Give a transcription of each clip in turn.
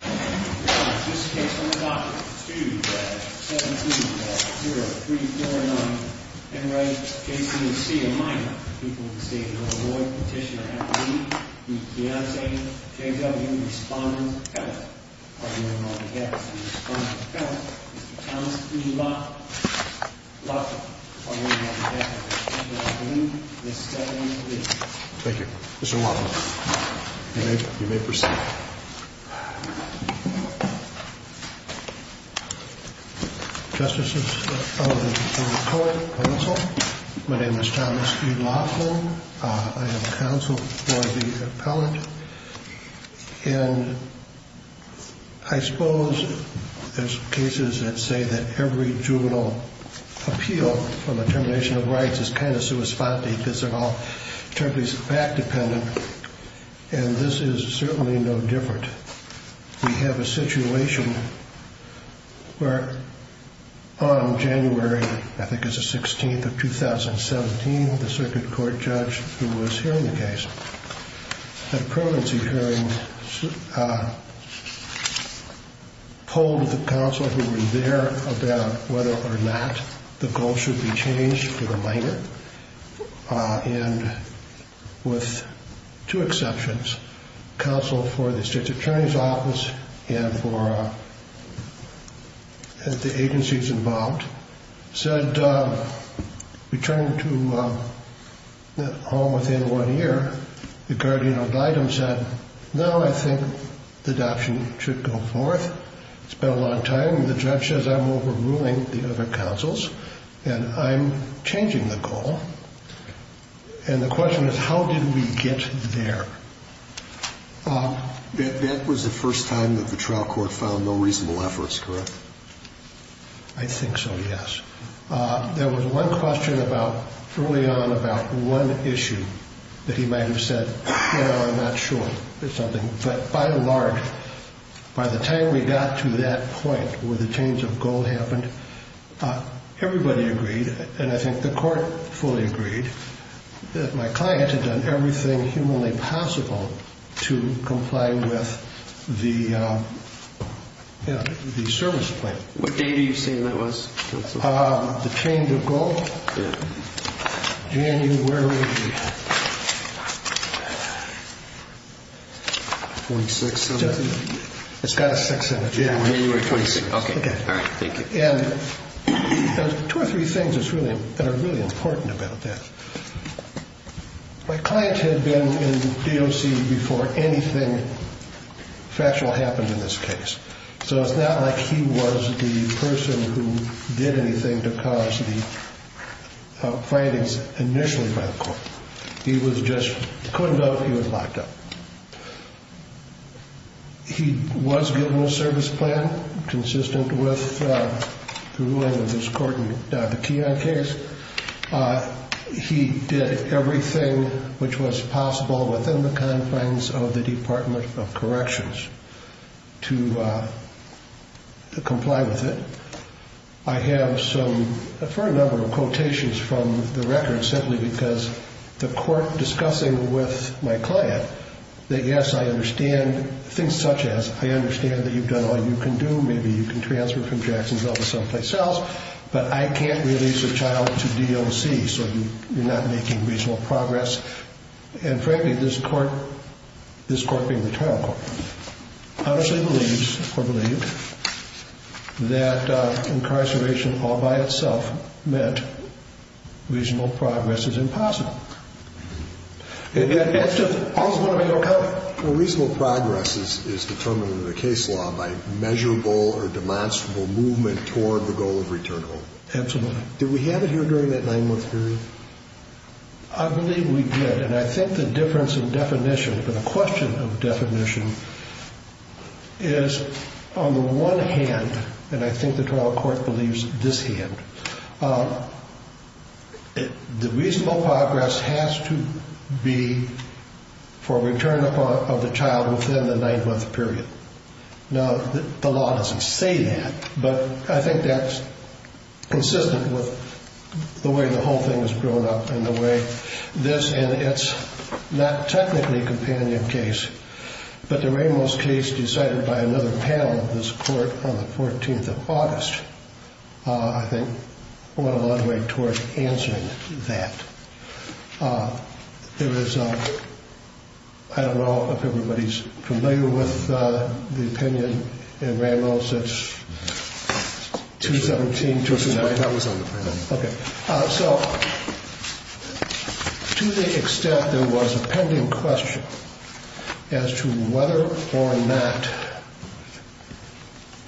This case on the Dr. 270349. People would say, I need he respond. You. Thank you, sir. You know, justices. My name is Thomas. I have counsel for the appellant. And I suppose there's cases that say that every juvenile appeal from a termination of rights is kind of sui sponte because they're all terribly fact dependent. And this is certainly no different. We have a situation where on January, I think it's the 16th of 2017, the circuit court judge who was hearing the case, had a permanency hearing, polled the counsel who were there about whether or not the goal should be changed for the minor. And with two exceptions, counsel for the state's attorney's office and for the agencies involved said, returning to home within one year, the guardian of the item said, no, I think the adoption should go forth. It's been a long time. And the judge says I'm overruling the other counsels and I'm changing the goal. And the question is, how did we get there? That was the first time that the trial court found no reasonable efforts, correct? I think so. Yes. There was one question about, early on about one issue that he might've said, you know, I'm not sure, but by and large, by the time we got to that point where the change of goal happened, everybody agreed. And I think the court fully agreed that my client had done everything humanly possible to comply with the, you know, the service plan. What date are you saying that was? The change of goal? January 26th. It's got a six in it. January 26th. Okay. All right. Thank you. And two or three things that are really important about that. My client had been in DOC before anything factual happened in this case. So it's not like he was the person who did anything to cause the findings initially by the court. He was just, couldn't go, he was locked up. He was given a service plan consistent with the ruling of this court in the Keon case. He did everything which was possible within the confines of the Department of Corrections to comply with it. I have some, a fair number of quotations from the record simply because the court discussing with my client that, yes, I understand things such as, I understand that you've done all you can do, maybe you can transfer from Jacksonville to someplace else, but I can't release a child to DOC so you're not making reasonable progress and frankly, this court, this court being the trial court, honestly believes or believed that incarceration all by itself meant reasonable progress is impossible. And that's just, all's going to be okay. Well, reasonable progress is, is determined in the case law by measurable or demonstrable movement toward the goal of return home. Absolutely. Did we have it here during that nine month period? I believe we did. And I think the difference in definition, the question of definition is on the one hand, and I think the trial court believes this hand, the reasonable progress has to be for return of the child within the nine month period. Now, the law doesn't say that, but I think that's consistent with the way the whole thing has grown up and the way this, and it's not technically a companion case, but the Ramos case decided by another panel of this court on the 14th of August. I think went a long way toward answering that. There was, I don't know if everybody's familiar with the opinion in Ramos. It's 217-229. Okay. So to the extent there was a pending question as to whether or not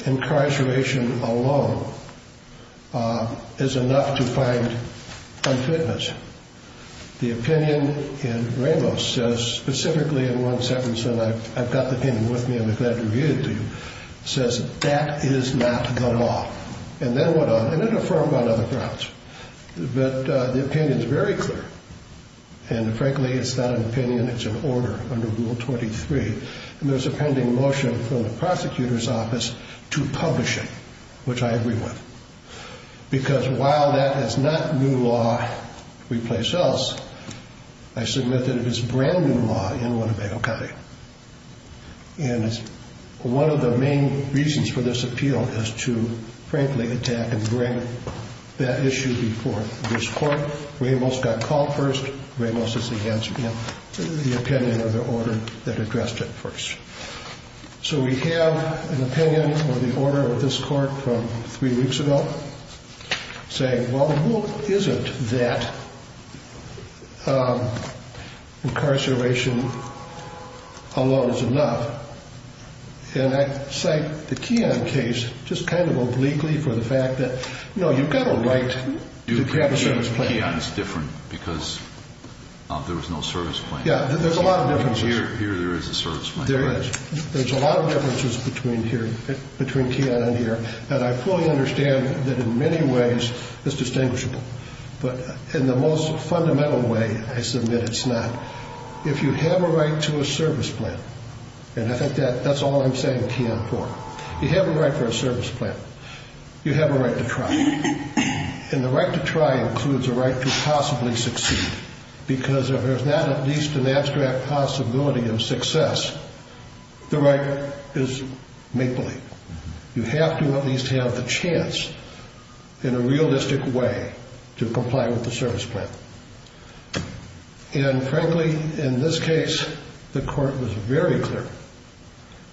incarceration alone is enough to find unfitness. The opinion in Ramos says, specifically in one sentence, and I've got the opinion with me, I'm glad to read it to you, says that is not the law. And then what, and it affirmed on other grounds, but the opinion is very clear. And frankly, it's not an opinion, it's an order under rule 23. And there's a pending motion from the prosecutor's office to publish it, which I agree with. Because while that is not new law, replace us, I submit that it is brand new law in Winnebago County. And it's one of the main reasons for this appeal is to frankly attack and bring that issue before this court. Ramos got called first, Ramos is against the opinion of the order that addressed it first. So we have an opinion or the order of this court from three weeks ago saying, well, the rule isn't that incarceration alone is enough. And I cite the Keon case just kind of obliquely for the fact that, you know, you've got a right to have a service plan. Do you agree that Keon is different because there was no service plan? Yeah, there's a lot of differences. Here there is a service plan. There is, there's a lot of differences between here, between Keon and here. And I fully understand that in many ways it's distinguishable, but in the most fundamental way, I submit it's not. If you have a right to a service plan, and I think that that's all I'm saying Keon for, you have a right for a service plan, you have a right to try. And the right to try includes a right to possibly succeed because if there's not at least an abstract possibility of success, the right is make-believe. You have to at least have the chance in a realistic way to comply with the service plan. And frankly, in this case, the court was very clear.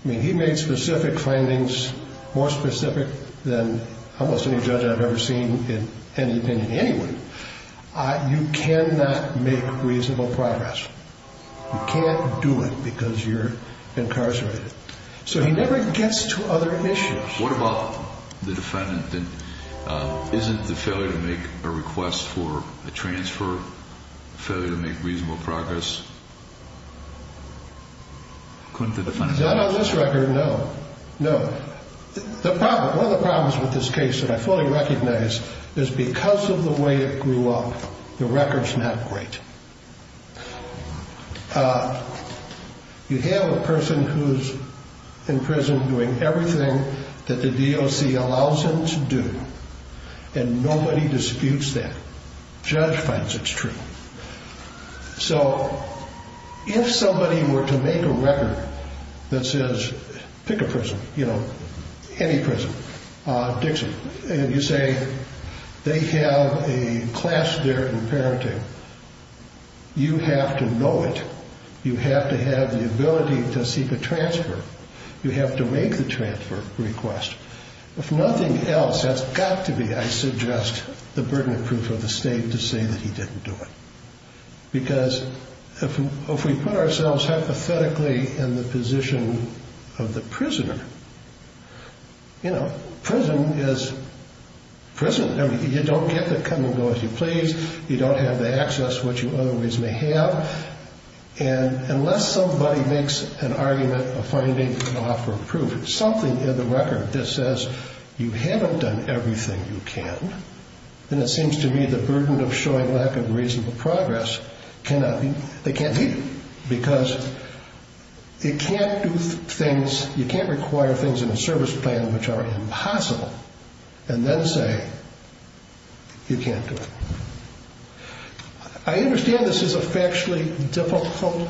I mean, he made specific findings, more specific than almost any judge I've ever seen in any opinion anyway. You cannot make reasonable progress. You can't do it because you're incarcerated. So he never gets to other issues. What about the defendant then? Isn't the failure to make a request for a transfer, failure to make reasonable progress? Couldn't the defendant have done that? Not on this record, no, no. The problem, one of the problems with this case that I fully recognize is because of the way it grew up, the record's not great. You have a person who's in prison doing everything that the DOC allows him to do. And nobody disputes that. Judge finds it's true. So if somebody were to make a record that says, pick a prison, you know, any prison, Dixon, and you say they have a class there in parenting, you have to know it. You have to have the ability to seek a transfer. You have to make the transfer request. If nothing else, that's got to be, I suggest, the burden of proof of the state to say that he didn't do it. Because if we put ourselves hypothetically in the position of the prison is prison, you don't get to come and go as you please. You don't have the access, which you always may have. And unless somebody makes an argument of finding an offer of proof, something in the record that says you haven't done everything you can, then it seems to me the burden of showing lack of reasonable progress cannot be, they can't be. Because you can't do things, you can't require things in a service plan, which are impossible, and then say, you can't do it. I understand this is a factually difficult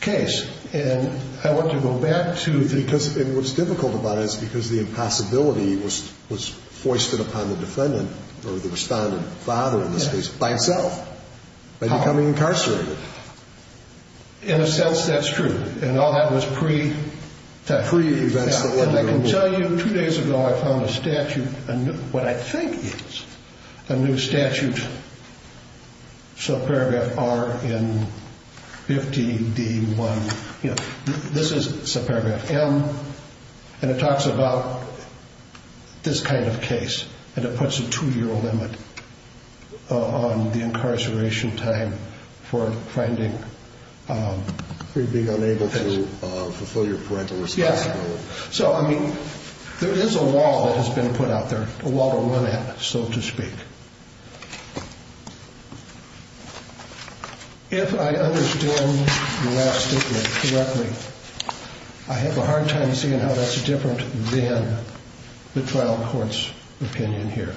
case. And I want to go back to... Because what's difficult about it is because the impossibility was foisted upon the defendant or the respondent father, in this case, by himself, by becoming incarcerated. In a sense, that's true. And all that was pre-testing. Pre-events that led to... I can tell you two days ago, I found a statute, what I think is a new statute, subparagraph R in 50D1. This is subparagraph M, and it talks about this kind of case. And it puts a two-year limit on the incarceration time for finding... For being unable to fulfill your parental responsibility. So, I mean, there is a wall that has been put out there, a wall to run at, so to speak. If I understand the last statement correctly, I have a hard time seeing how that's different than the trial court's opinion here.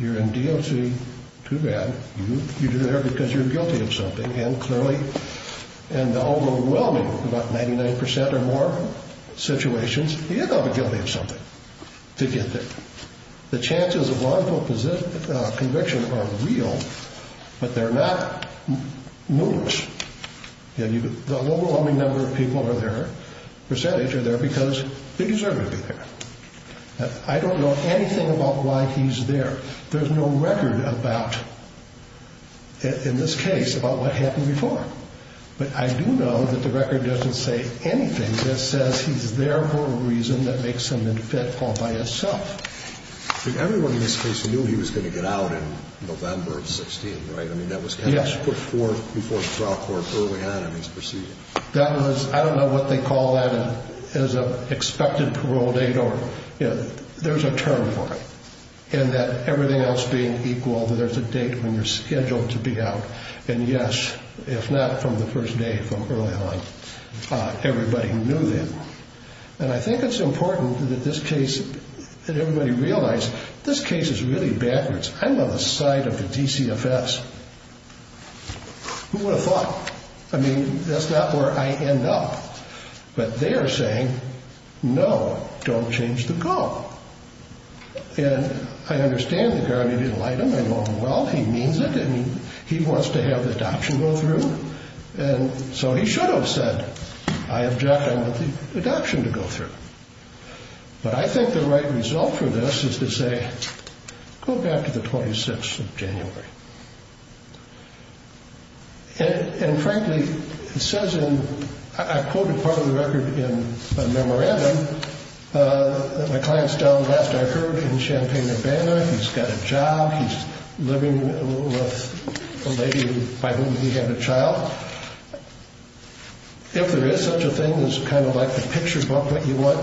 You're in DOC, too bad. You're there because you're guilty of something. And clearly, in the overwhelming, about 99% or more, situations, you end up guilty of something to get there. The chances of liable conviction are real, but they're not numerous. And the overwhelming number of people are there, percentage are there, because they deserve to be there. I don't know anything about why he's there. There's no record about, in this case, about what happened before. But I do know that the record doesn't say anything that says he's there for a reason that makes him unfit all by himself. But everyone in this case knew he was going to get out in November of 16, right? I mean, that was before the trial court early on in his procedure. That was, I don't know what they call that as an expected parole date, or, you know, there's a term for it. And that everything else being equal, that there's a date when you're scheduled to be out. And yes, if not from the first day, from early on, everybody knew that. And I think it's important that this case, that everybody realize, this case is really backwards. I'm on the side of the DCFS. Who would have thought? I mean, that's not where I end up, but they are saying, no, don't change the goal. And I understand that Garvey didn't like him, I know him well, he means it. And he wants to have the adoption go through. And so he should have said, I object, I want the adoption to go through. But I think the right result for this is to say, go back to the 26th of January. And frankly, it says in, I quoted part of the record in a memorandum that my client's down west, I heard, in Champaign-Urbana, he's got a job, he's living with a lady by whom he had a child. If there is such a thing as kind of like the picture book, what you want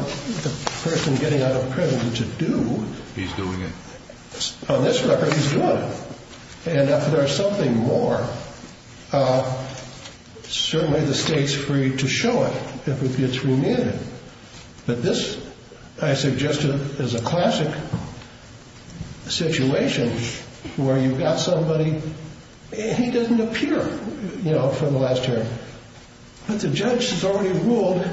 the person getting out of prison to do, he's doing it. On this record, he's doing it. And if there's something more, certainly the state's free to show it if it gets remanded. But this, I suggested, is a classic situation where you've got somebody, and he doesn't appear, you know, for the last year. But the judge has already ruled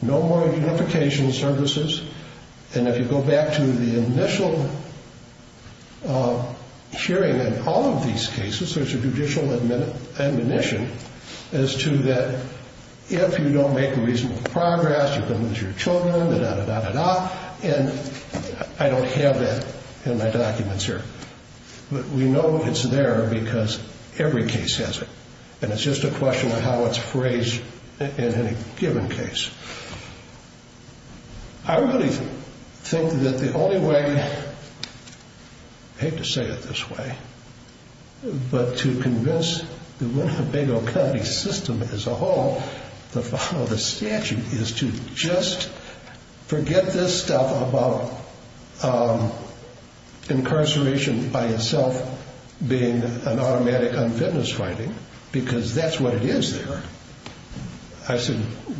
no more unification services. And if you go back to the initial hearing in all of these cases, there's a judicial admonition as to that, if you don't make a reasonable progress, you can lose your children, da-da-da-da-da-da, and I don't have that in my documents here. But we know it's there because every case has it. And it's just a question of how it's phrased in any given case. I really think that the only way, I hate to say it this way, but to convince the Winnebago County system as a whole to follow the statute is to just forget this stuff about incarceration by itself being an automatic unfitness finding, because that's what it is there. I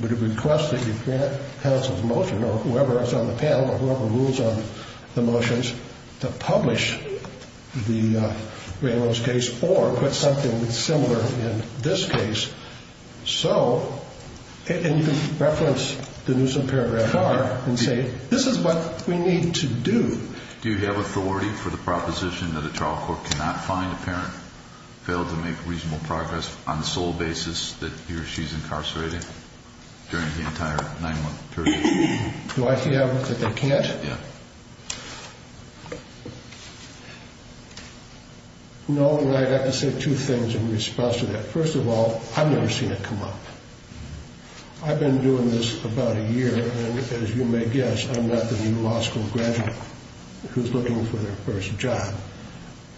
would request that you grant counsel's motion or whoever is on the panel or whoever rules on the statute to do something similar in this case, so, and you can reference the Newsom Paragraph R and say this is what we need to do. Do you have authority for the proposition that a trial court cannot find a parent failed to make reasonable progress on the sole basis that he or she's incarcerated during the entire nine-month period? Do I have that they can't? Yeah. No, and I have to say two things in response to that. First of all, I've never seen it come up. I've been doing this about a year, and as you may guess, I'm not the new law school graduate who's looking for their first job.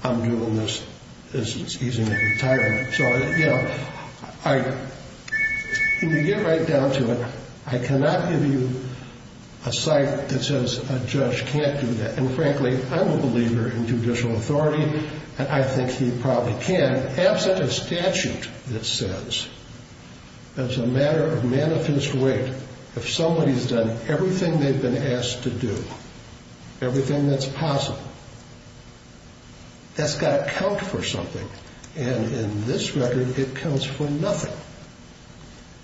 I'm doing this as he's in retirement. So, you know, to get right down to it, I cannot give you a site that says a judge can't do that, and frankly, I'm a believer in judicial authority, and I think he probably can. Absent a statute that says, as a matter of manifest weight, if somebody's done everything they've been asked to do, everything that's possible, that's got to count for something, and in this record, it counts for nothing.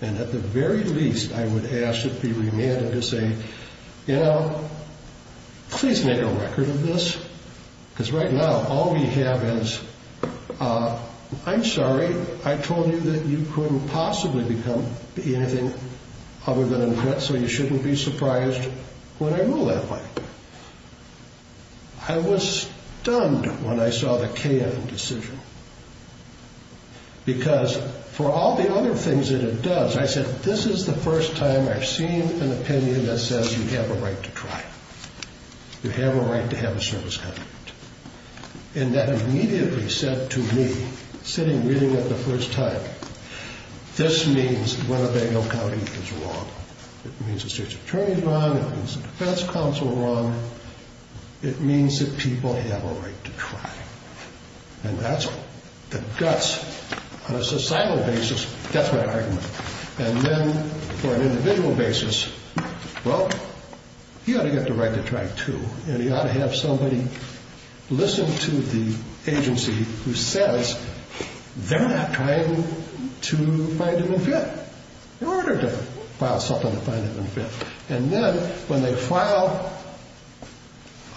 And at the very least, I would ask that it be remanded to say, you know, please make a record of this, because right now, all we have is, I'm sorry, I told you that you couldn't possibly become anything other than a vet, so you shouldn't be surprised when I rule that way. I was stunned when I saw the KM decision, because for all the other things that it does, I said, this is the first time I've seen an opinion that says you have a right to try. You have a right to have a service contract, and that immediately said to me, sitting reading it the first time, this means that Winnebago County is wrong. It means the state's attorney is wrong, it means the defense counsel is wrong, it means that people have a right to try. And that's the guts, on a societal basis, that's my argument. And then, for an individual basis, well, you ought to get the right to try, too, and you ought to have somebody listen to the agency who says they're not trying to find an event, in order to file something to find an event. And then, when they file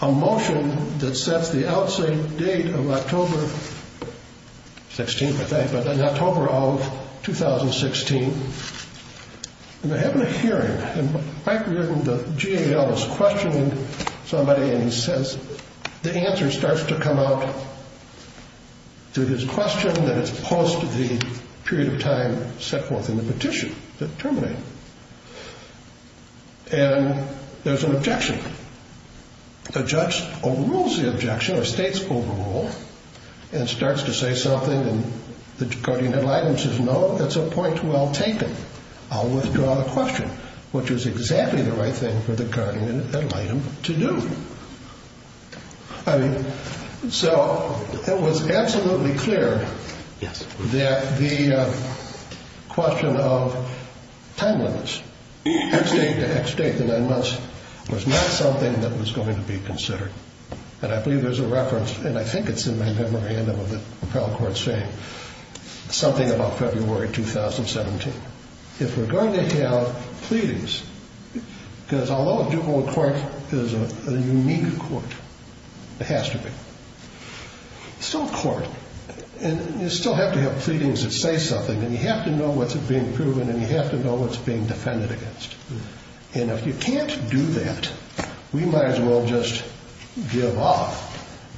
a motion that sets the outset date of October 16th, I think, but in October of 2016, and they're having a hearing, and Mike Reardon, the GAL, is questioning somebody, and he says, the answer starts to come out through his question, that it's post the period of time set forth in the petition that terminated. And there's an objection. The judge overrules the objection, or states overrule, and starts to say something, and the guardian ad litem says, no, that's a point well taken. I'll withdraw the question, which is exactly the right thing for the guardian ad litem to do. So, it was absolutely clear that the question of time limits, X date to X date, the nine months, was not something that was going to be considered. And I believe there's a reference, and I think it's in my memorandum of the appellate court's fame, something about February 2017. If we're going to have pleadings, because although a dual court is a unique court, it has to be, it's still a court, and you still have to have pleadings that say something, and you have to know what's being proven, and you have to know what's being defended against. And if you can't do that, we might as well just give up,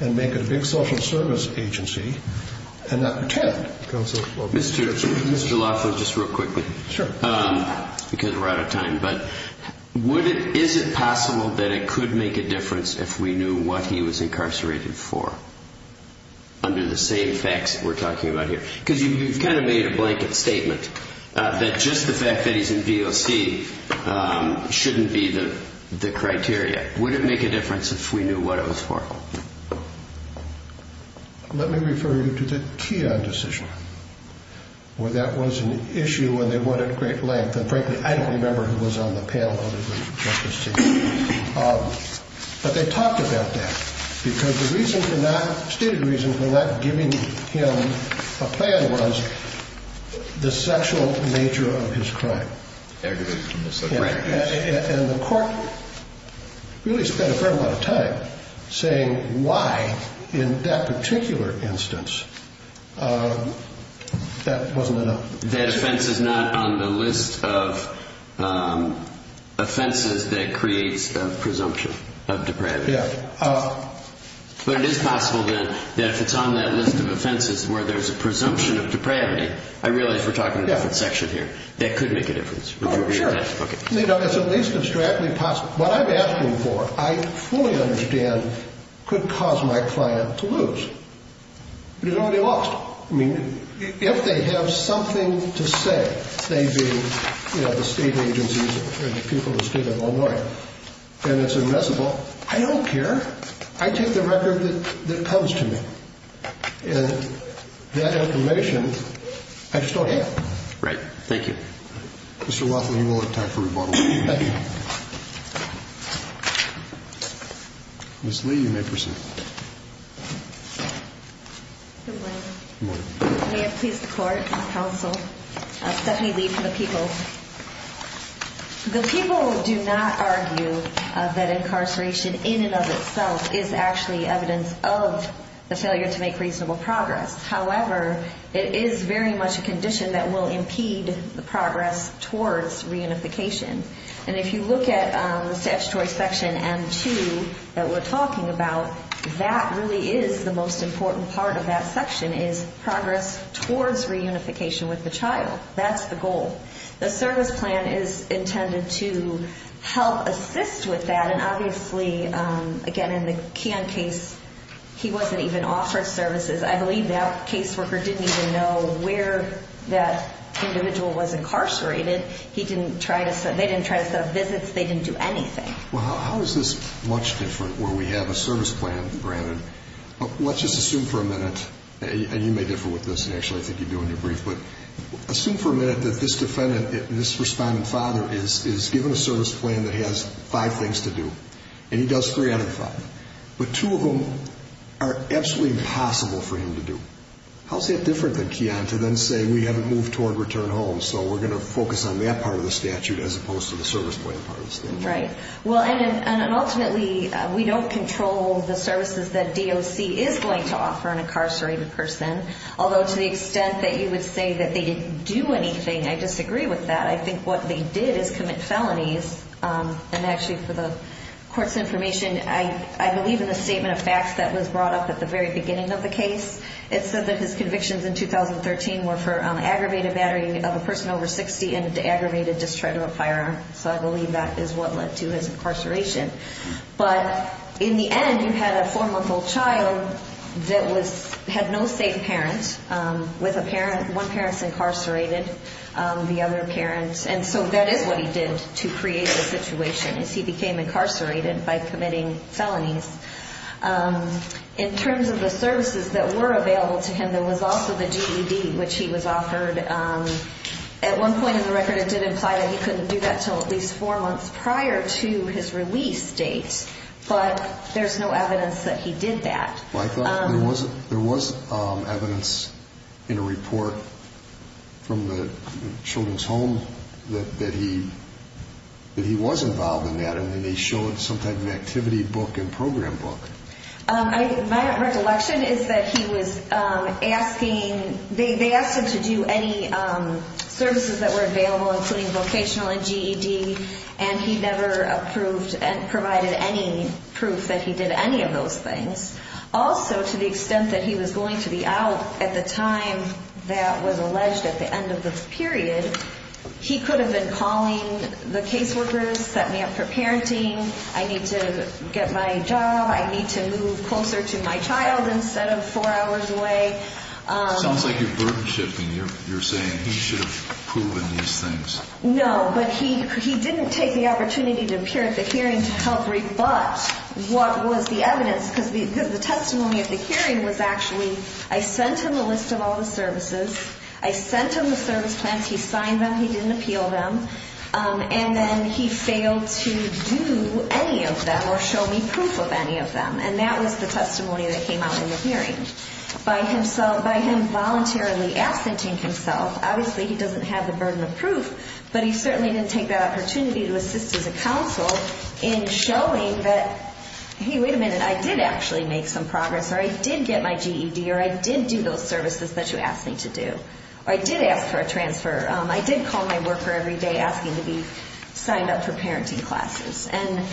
and make a big social service agency, and not pretend. Mr. Laffer, just real quickly, because we're out of time, but is it possible that it could make a difference if we knew what he was incarcerated for, under the same facts that we're talking about here? Because you've kind of made a blanket statement, that just the fact that he's in VOC shouldn't be the criteria. Would it make a difference if we knew what it was for? Let me refer you to the Keogh decision, where that was an issue, and they went at great length, and frankly, I don't remember who was on the panel, but they talked about that, because the stated reasons for not giving him a plan was the sexual nature of his crime. And the court really spent a fair amount of time saying why, in that particular instance, that wasn't enough. That offense is not on the list of offenses that creates a presumption of depravity. But it is possible, then, that if it's on that list of offenses where there's a presumption of depravity, I realize we're talking about a different section here, that could make a difference. What I'm asking for, I fully understand, could cause my client to lose. But he's already lost. If they have something to say, say, the state agencies or the people of the state of Illinois, and it's admissible, I don't care. I take the record that comes to me. And that information, I just don't have. Mr. Rothman, you will have time for rebuttal. Ms. Lee, you may proceed. Good morning. Good morning. Stephanie Lee from the People. The People do not argue that incarceration in and of itself is actually evidence of the failure to make reasonable progress. However, it is very much a condition that will impede the progress towards reunification. And if you look at the statutory section M2 that we're talking about, that really is the most important part of that section, is progress towards reunification with the child. That's the goal. The service plan is intended to help assist with that. And obviously, again, in the Keon case, he wasn't even offered services. I believe that caseworker didn't even know where that individual was incarcerated. They didn't try to set up visits. They didn't do anything. Well, how is this much different where we have a service plan granted? Let's just assume for a minute, and you may differ with this, and actually I think you do in your brief, but assume for a minute that this defendant, this responding father, is given a service plan that has five things to do. And he does three out of five. But two of them are absolutely impossible for him to do. How is that different than Keon to then say, we haven't moved toward return home, so we're going to focus on that part of the statute as opposed to the service plan part of the statute? And ultimately, we don't control the services that DOC is going to offer an incarcerated person. Although, to the extent that you would say that they didn't do anything, I disagree with that. I think what they did is commit felonies. And actually, for the court's information, I believe in the statement of facts that was brought up at the very beginning of the case. It said that his convictions in 2013 were for aggravated battery of a person over 60 and aggravated distress of a firearm. So I believe that is what led to his incarceration. But in the end, you had a four-month-old child that had no safe parents. One parent is incarcerated, the other parent. And so that is what he did to create the situation, is he became incarcerated by committing felonies. In terms of the services that were available to him, there was also the GED, which he was offered at one point in the record, it did imply that he couldn't do that until at least four months prior to his release date. But there's no evidence that he did that. There was evidence in a report from the Children's Home that he was involved in that, and they showed some type of activity book and program book. My recollection is that he was asking they asked him to do any services that were available including vocational and GED, and he never approved and provided any proof that he did any of those things. Also, to the extent that he was going to be out at the time that was alleged at the end of the period, he could have been calling the caseworkers, set me up for parenting, I need to get my job, I need to move closer to my child instead of four hours away. No, but he didn't take the opportunity to appear at the hearing to help rebut what was the evidence, because the testimony at the hearing was actually, I sent him a list of all the services, I sent him the service plans, he signed them, he didn't appeal them, and then he failed to do any of them or show me proof of any of them. And that was the by him voluntarily absenting himself, obviously he doesn't have the burden of proof, but he certainly didn't take that opportunity to assist as a counsel in showing that, hey, wait a minute I did actually make some progress, or I did get my GED, or I did do those services that you asked me to do, or I did ask for a transfer, I did call my worker every day asking to be signed up for parenting classes and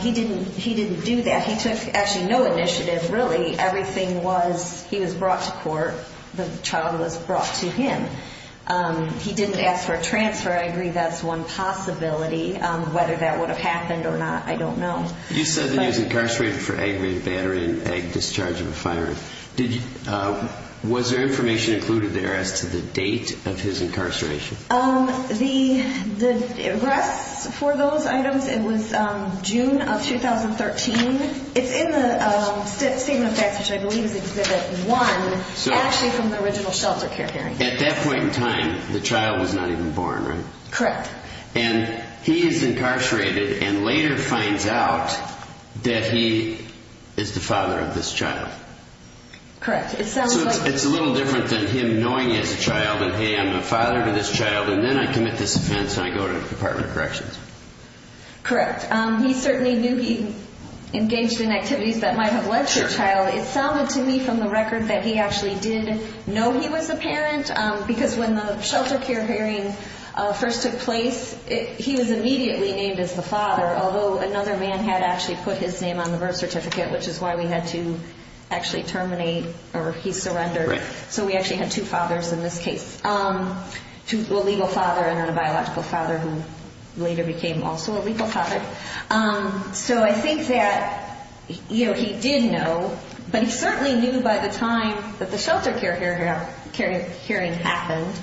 he didn't do that, he took actually no initiative really, everything was, he was brought to court, the child was brought to him. He didn't ask for a transfer, I agree that's one possibility, whether that would have happened or not, I don't know. You said that he was incarcerated for aggravated battery and egg discharge of a firearm. Was there information included there as to the date of his incarceration? The arrests for those items, it was June of 2013 it's in the Statement of Facts, which I believe is Exhibit 1 actually from the original shelter care hearing. At that point in time the child was not even born, right? Correct. And he is incarcerated and later finds out that he is the father of this child. Correct, it sounds like So it's a little different than him knowing he has a child, and hey I'm the father of this child and then I commit this offense and I go to the Department of Corrections. Correct He certainly knew he engaged in activities that might have led to a child It sounded to me from the record that he actually did know he was a parent, because when the shelter care hearing first took place he was immediately named as the father, although another man had actually put his name on the birth certificate, which is why we had to actually terminate, or he surrendered, so we actually had two fathers in this case a legal father and a biological father who later became also a legal father So I think that he did know, but he certainly knew by the time that the shelter care hearing happened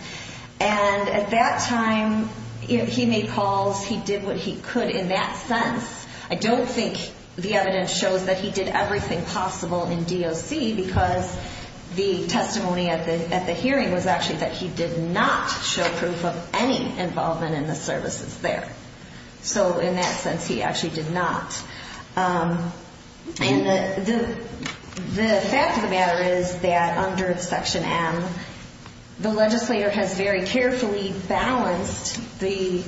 and at that time he made calls he did what he could in that sense. I don't think the evidence shows that he did everything possible in DOC because the testimony at the hearing was actually that he did not show any proof of any involvement in the services there So in that sense he actually did not The fact of the matter is that under Section M the legislator has very carefully balanced the,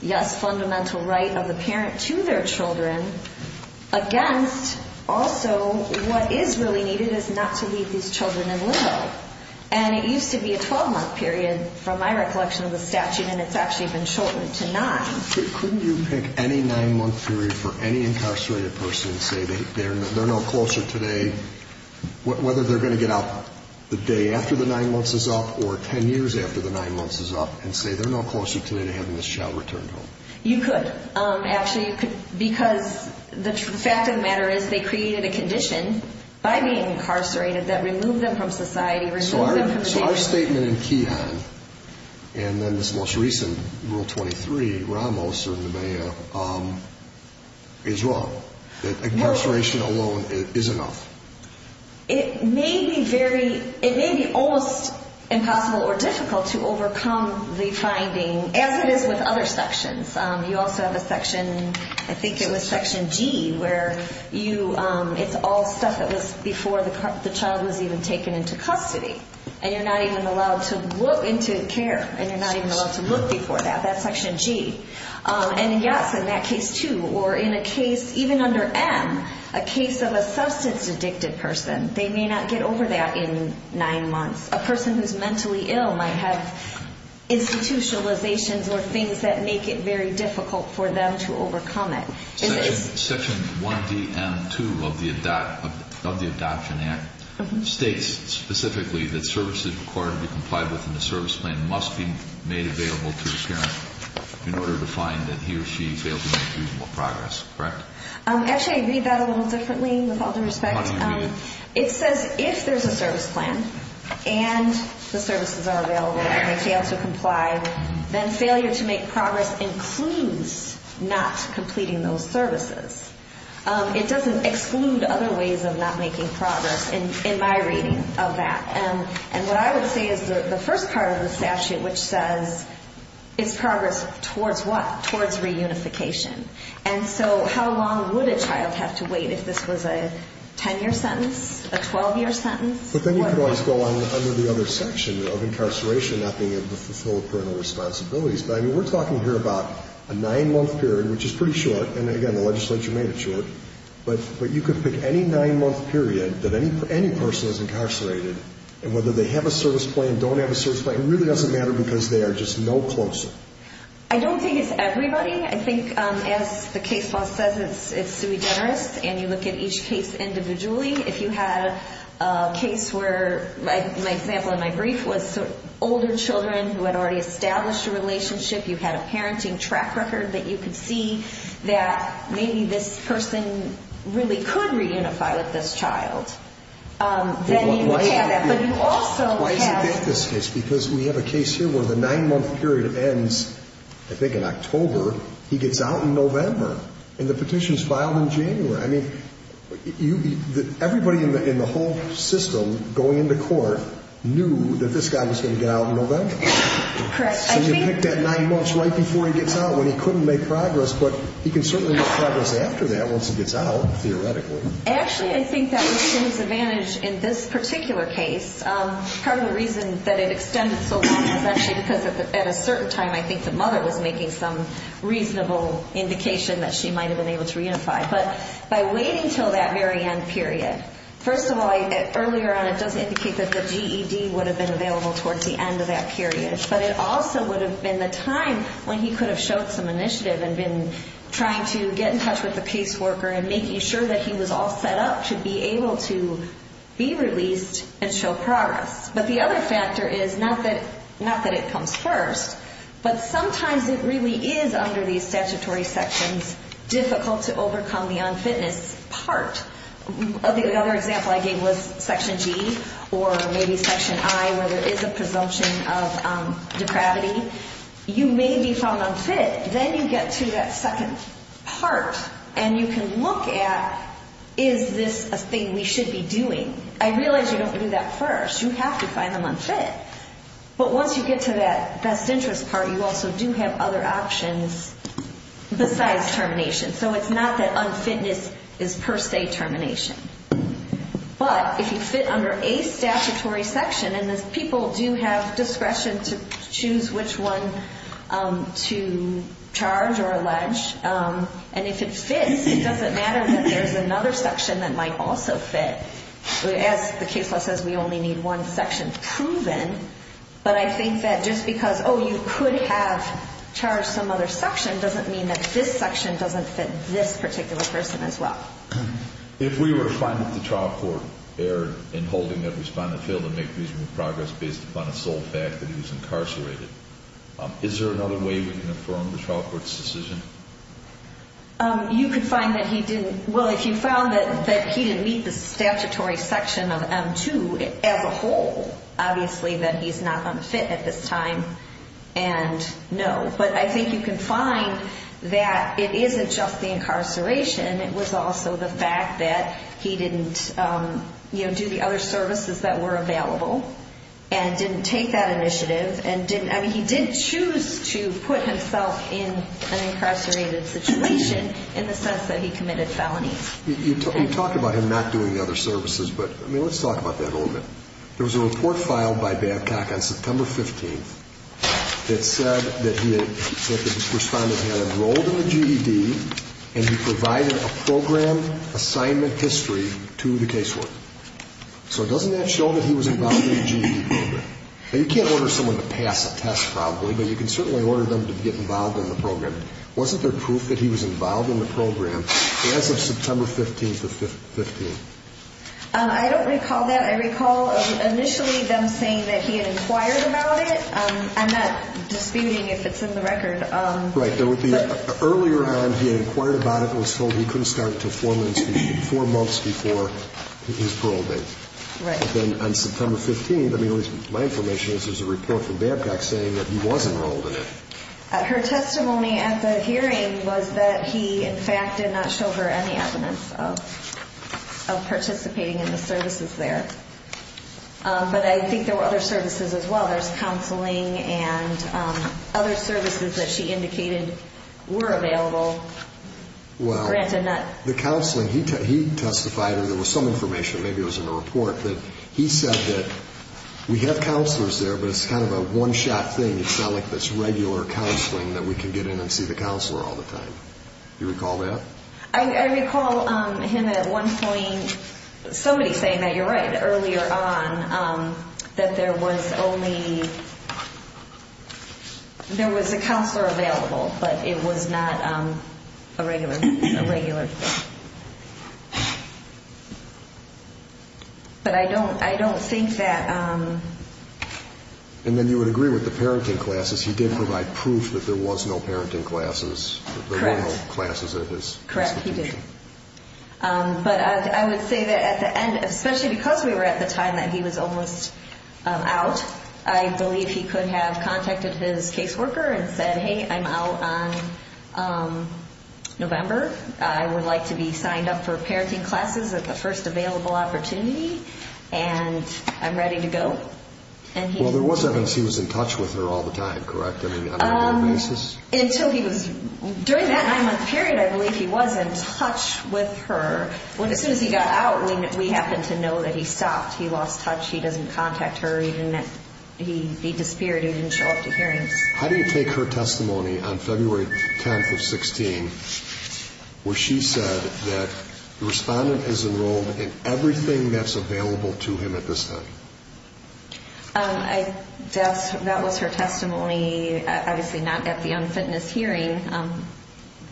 yes, fundamental right of the parent to their children against also what is really needed is not to leave these children in limbo and it used to be a 12 month period from my recollection of the statute and it's actually been shortened to 9. Couldn't you pick any 9 month period for any incarcerated person and say they're no closer today whether they're going to get out the day after the 9 months is up or 10 years after the 9 months is up and say they're no closer today to having this child returned home? You could, actually you could because the fact of the matter is they created a condition by being incarcerated that removed them from society. So our statement in Keyhan and then this most recent Rule 23 is wrong. That incarceration alone is enough. It may be very it may be almost impossible or difficult to overcome the finding as it is with other sections. You also have a section I think it was Section G where it's all stuff that was before the child was even taken into custody and you're not even allowed to look into care and you're not even allowed to look before that that's Section G. And yes in that case too or in a case even under M, a case of a substance addicted person they may not get over that in 9 months. A person who's mentally ill might have institutionalizations or things that make it very difficult for them to overcome it. Section 1D and 2 of the Adoption Act states specifically that services required to be complied with in the service plan must be made available to the parent in order to find that he or she failed to make reasonable progress, correct? Actually I read that a little differently with all due respect. It says if there's a service plan and the services are available and they fail to comply then failure to make progress includes not completing those services. It doesn't exclude other ways of not making progress in my reading of that. And what I would say is the first part of the statute which says it's progress towards what? Towards reunification. And so how long would a child have to wait if this was a 10 year sentence, a 12 year sentence? But then you could always go on under the other section of incarceration not being able to fulfill parental responsibilities. But I mean we're talking here about a legislature made it short. But you could pick any nine month period that any person is incarcerated and whether they have a service plan, don't have a service plan, it really doesn't matter because they are just no closer. I don't think it's everybody. I think as the case law says it's sui generis and you look at each case individually. If you had a case where my example in my brief was older children who had already established a relationship, you had a parenting track record that you could see that maybe this person really could reunify with this child. Why is it that this case, because we have a case here where the nine month period ends I think in October, he gets out in November and the petition is filed in January. I mean everybody in the whole system going into court knew that this guy was going to get out in November. So you picked that nine months right before he gets out when he couldn't make progress but he can certainly make progress after that once he gets out theoretically. Actually I think that was to his advantage in this particular case. Part of the reason that it extended so long is actually because at a certain time I think the mother was making some reasonable indication that she might have been able to reunify. But by waiting until that very end period, first of all earlier on it does indicate that the GED would have been available towards the end of that time when he could have showed some initiative and been trying to get in touch with the caseworker and making sure that he was all set up to be able to be released and show progress. But the other factor is not that it comes first, but sometimes it really is under these statutory sections difficult to overcome the unfitness part. The other example I gave was Section G or maybe Section I where there is a presumption of depravity. You may be found unfit. Then you get to that second part and you can look at is this a thing we should be doing? I realize you don't do that first. You have to find them unfit. But once you get to that best interest part you also do have other options besides termination. So it's not that unfitness is per se termination. But if you fit under a statutory section and people do have discretion to choose which one to charge or allege. And if it fits it doesn't matter that there is another section that might also fit. As the case law says we only need one section proven. But I think that just because you could have charged some other section doesn't mean that this section doesn't fit this particular person as well. If we were finding the trial court error in holding that respondent failed to make reasonable progress based upon the sole fact that he was incarcerated is there another way we can affirm the trial court's decision? You can find that he didn't. Well if you found that he didn't meet the statutory section of M2 as a whole obviously then he's not unfit at this time and no. But I think you can find that it isn't just the incarceration. It was also the fact that he didn't do the other services that were available and didn't take that initiative. He did choose to put himself in an incarcerated situation in the sense that he committed felonies. You talk about him not doing the other services but let's talk about that a little bit. There was a report filed by Babcock on September 15th that said that the respondent had enrolled in the GED and he provided a program assignment history to the casework. So doesn't that show that he was involved in the GED program? Now you can't order someone to pass a test probably but you can certainly order them to get involved in the program. Wasn't there proof that he was involved in the program as of September 15th of 15th? I don't recall that. I recall initially them saying that he had inquired about it. I'm not disputing if it's in the record. Right. Earlier on he had inquired about it and was told he couldn't start until four months before his parole date. Right. But then on September 15th, at least my information is there's a report from Babcock saying that he was enrolled in it. Her testimony at the hearing was that he in fact did not show her any evidence of participating in the services there. But I think there were other services as well. There's counseling and other services that she indicated were available. Well, the counseling he testified or there was some information, maybe it was in the report, that he said that we have counselors there but it's kind of a one-shot thing. It's not like this regular counseling that we can get in and see the counselor all the time. Do you recall that? I recall him at one point, somebody saying that, you're right, earlier on that there was only there was a counselor available but it was not a regular but I don't think that. And then you would agree with the parenting classes. He did provide proof that there was no parenting classes. Correct. But I would say that at the end, especially because we were at the time that he was almost out, I believe he could have contacted his caseworker and said, hey, I'm out on November. I would like to be signed up for parenting classes at the first available opportunity and I'm ready to go. Well, there was evidence he was in touch with her all the time, correct? During that nine-month period, I believe he was in touch with her. As soon as he got out, we happened to know that he stopped. He lost touch. He doesn't contact her. He disappeared. He didn't show up to hearings. How do you take her testimony on February 10th of 16, where she said that the respondent is enrolled in everything that's available to him at this time? That was her testimony obviously not at the unfitness hearing.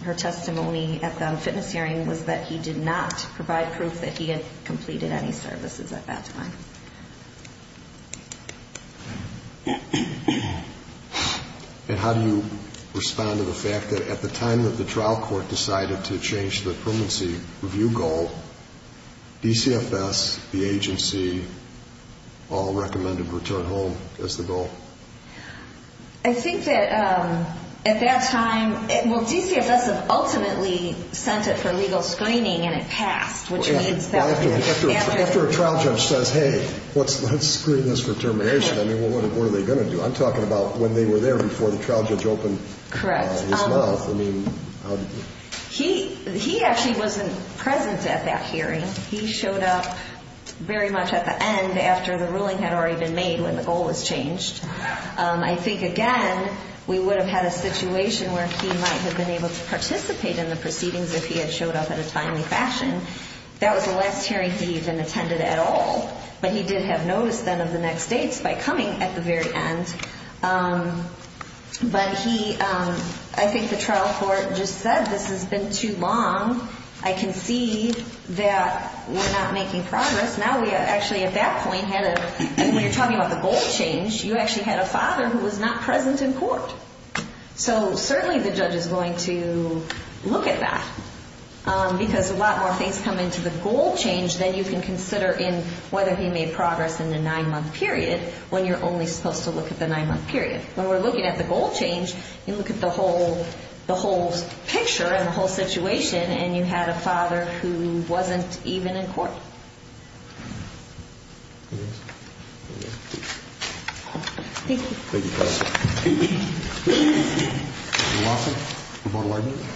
Her testimony at the unfitness hearing was that he did not provide proof that he had completed any services at that time. And how do you respond to the fact that at the time that the trial court decided to change the permanency review goal, DCFS, the agency, all recommended return home as the goal? I think that at that time, well, DCFS ultimately sent it for legal screening and it passed. After a trial judge says, hey, let's screen this for termination, what are they going to do? I'm talking about when they were there before the trial judge opened his mouth. He actually wasn't present at that hearing. He showed up very much at the end after the ruling had already been made when the goal was changed. I think, again, we would have had a situation where he might have been able to participate in the trial in a different fashion. That was the last hearing he even attended at all. But he did have notice then of the next dates by coming at the very end. But he, I think the trial court just said this has been too long. I can see that we're not making progress. Now we actually at that point had a, when you're talking about the goal change, you actually had a father who was not present in court. So certainly the judge is going to look at that. Because a lot more things come into the goal change than you can consider in whether he made progress in a nine-month period when you're only supposed to look at the nine-month period. When we're looking at the goal change, you look at the whole picture and the whole situation and you had a father who wasn't even in court. Thank you. Thank you. Thank you.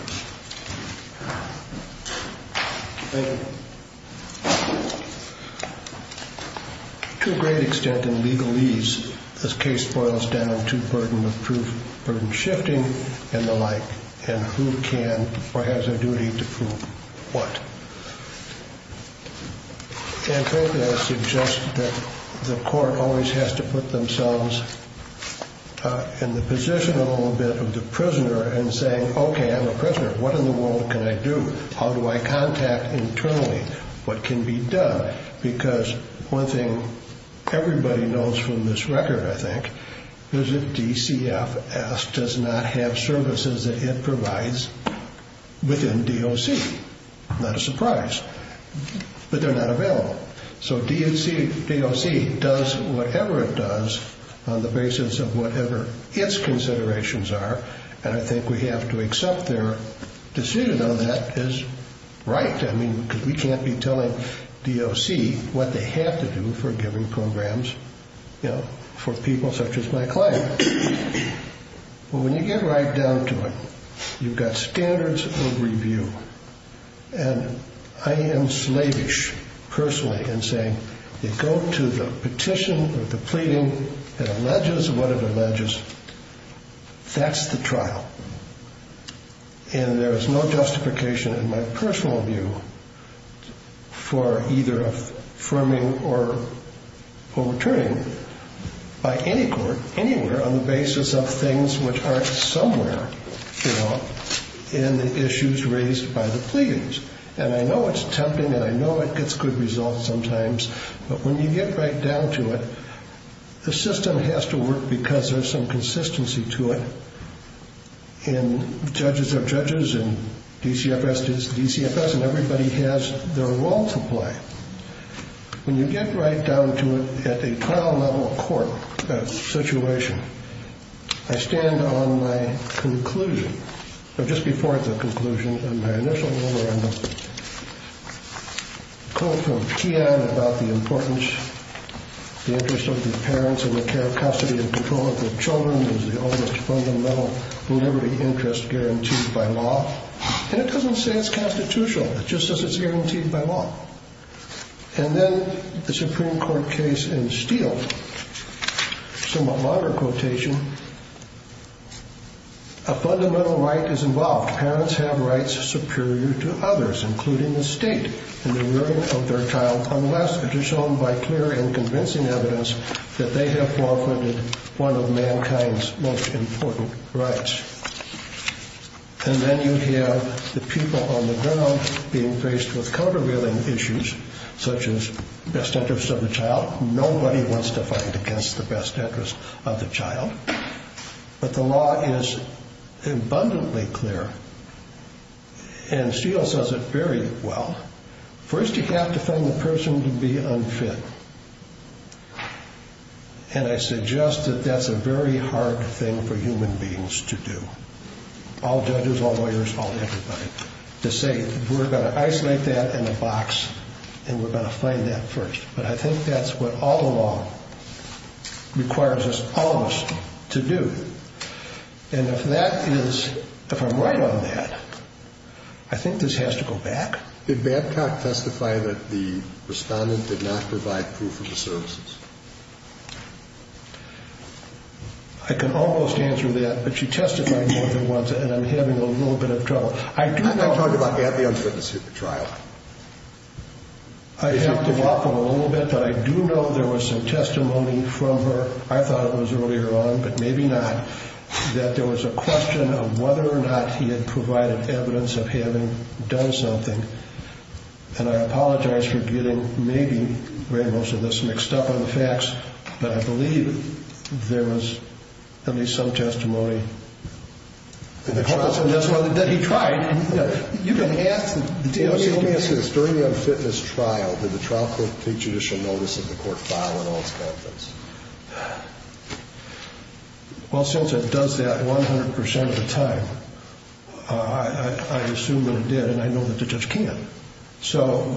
To a great extent in legalese, this case boils down to burden of proof, burden shifting and the like and who can or has a duty to prove what. And frankly I suggest that the court always has to put themselves in the position a little bit of the prisoner and saying okay I'm a prisoner. What in the world can I do? How do I contact internally? What can be done? Because one thing everybody knows from this record I think is that DCFS does not have services that it provides within DOC. Not a surprise. But they're not available. So DOC does whatever it does on the basis of whatever its considerations are and I think we have to accept their decision on that is right. We can't be telling DOC what they have to do for giving programs for people such as my client. When you get right down to it, you've got standards of review and I am slavish personally in saying you go to the petition or the pleading, it alleges what it alleges, that's the trial. And there is no justification in my personal view for either affirming or overturning by any court, anywhere on the basis of things which aren't somewhere in the issues raised by the pleadings. And I know it's tempting and I know it gets good results sometimes but when you get right down to it, the system has to work because there's some consistency to it. Judges are judges and DCFS is DCFS and everybody has their role to play. When you get right down to it at a trial level court situation I stand on my conclusion, just before the conclusion of my initial memorandum coming from Kean about the importance, the interest of the parents in the care, custody and control of their children is the only fundamental liberty interest guaranteed by law. And it doesn't say it's constitutional, it just says it's guaranteed by law. And then the Supreme Court case in Steele somewhat longer quotation A fundamental right is involved. Parents have rights superior to others, including the state in the ruling of their child unless it is shown by clear and convincing evidence that they have forfeited one of mankind's most important rights. And then you have the people on the ground being faced with countervailing issues such as best interest of the child. Nobody wants to fight against the best interest of the child. But the law is abundantly clear and Steele says it very well. First you have to find the person to be unfit. And I suggest that that's a very hard thing for human beings to do. All judges, all lawyers, all everybody. To say we're going to isolate that in a box and we're going to find that first. But I think that's what all the law requires us, all of us, to do. And if that is, if I'm right on that, I think this has to go back. Did Babcock testify that the Respondent did not provide proof of the services? I can almost answer that but she testified more than once and I'm having a little bit of trouble. I do know I talked about having the unfitness hit the trial. I have to walk on a little bit but I do know there was some testimony from her, I thought it was earlier on but maybe not, that there was a question of whether or not he had provided evidence of having done something. And I apologize for getting maybe very much of this mixed up on the facts but I believe there was at least some testimony that he tried. Let me ask you this. During the unfitness trial, did the trial court take judicial notice of the court file and all its contents? Well since it does that 100% of the time, I assume that it did and I know that the judge can't. So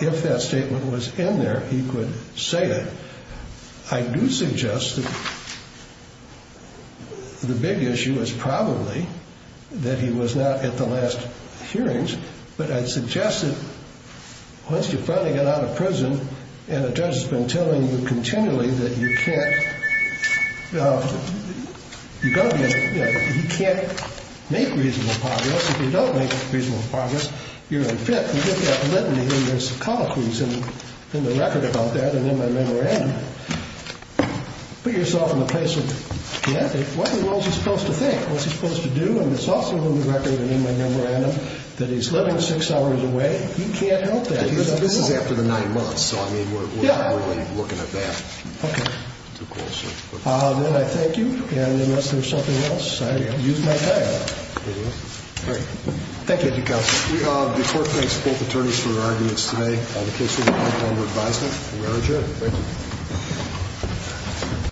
if that statement was in there, he could say it. I do suggest that the big issue is probably that he was not at the last hearings but I suggest that once you finally get out of prison and a judge has been telling you continually that you can't he can't make reasonable progress if you don't make reasonable progress, you're unfit. You get that litany in your psychologies and in the record about that and in my memorandum put yourself in the place of the ethic, what in the world is he supposed to think? What's he supposed to do? And it's also in the record in my memorandum that he's living six hours away. He can't help that. This is after the nine months so I mean we're not really looking at that. Then I thank you and unless there's something else I use my time. The court thanks both attorneys for their arguments today. The case is now under advisement. We are adjourned.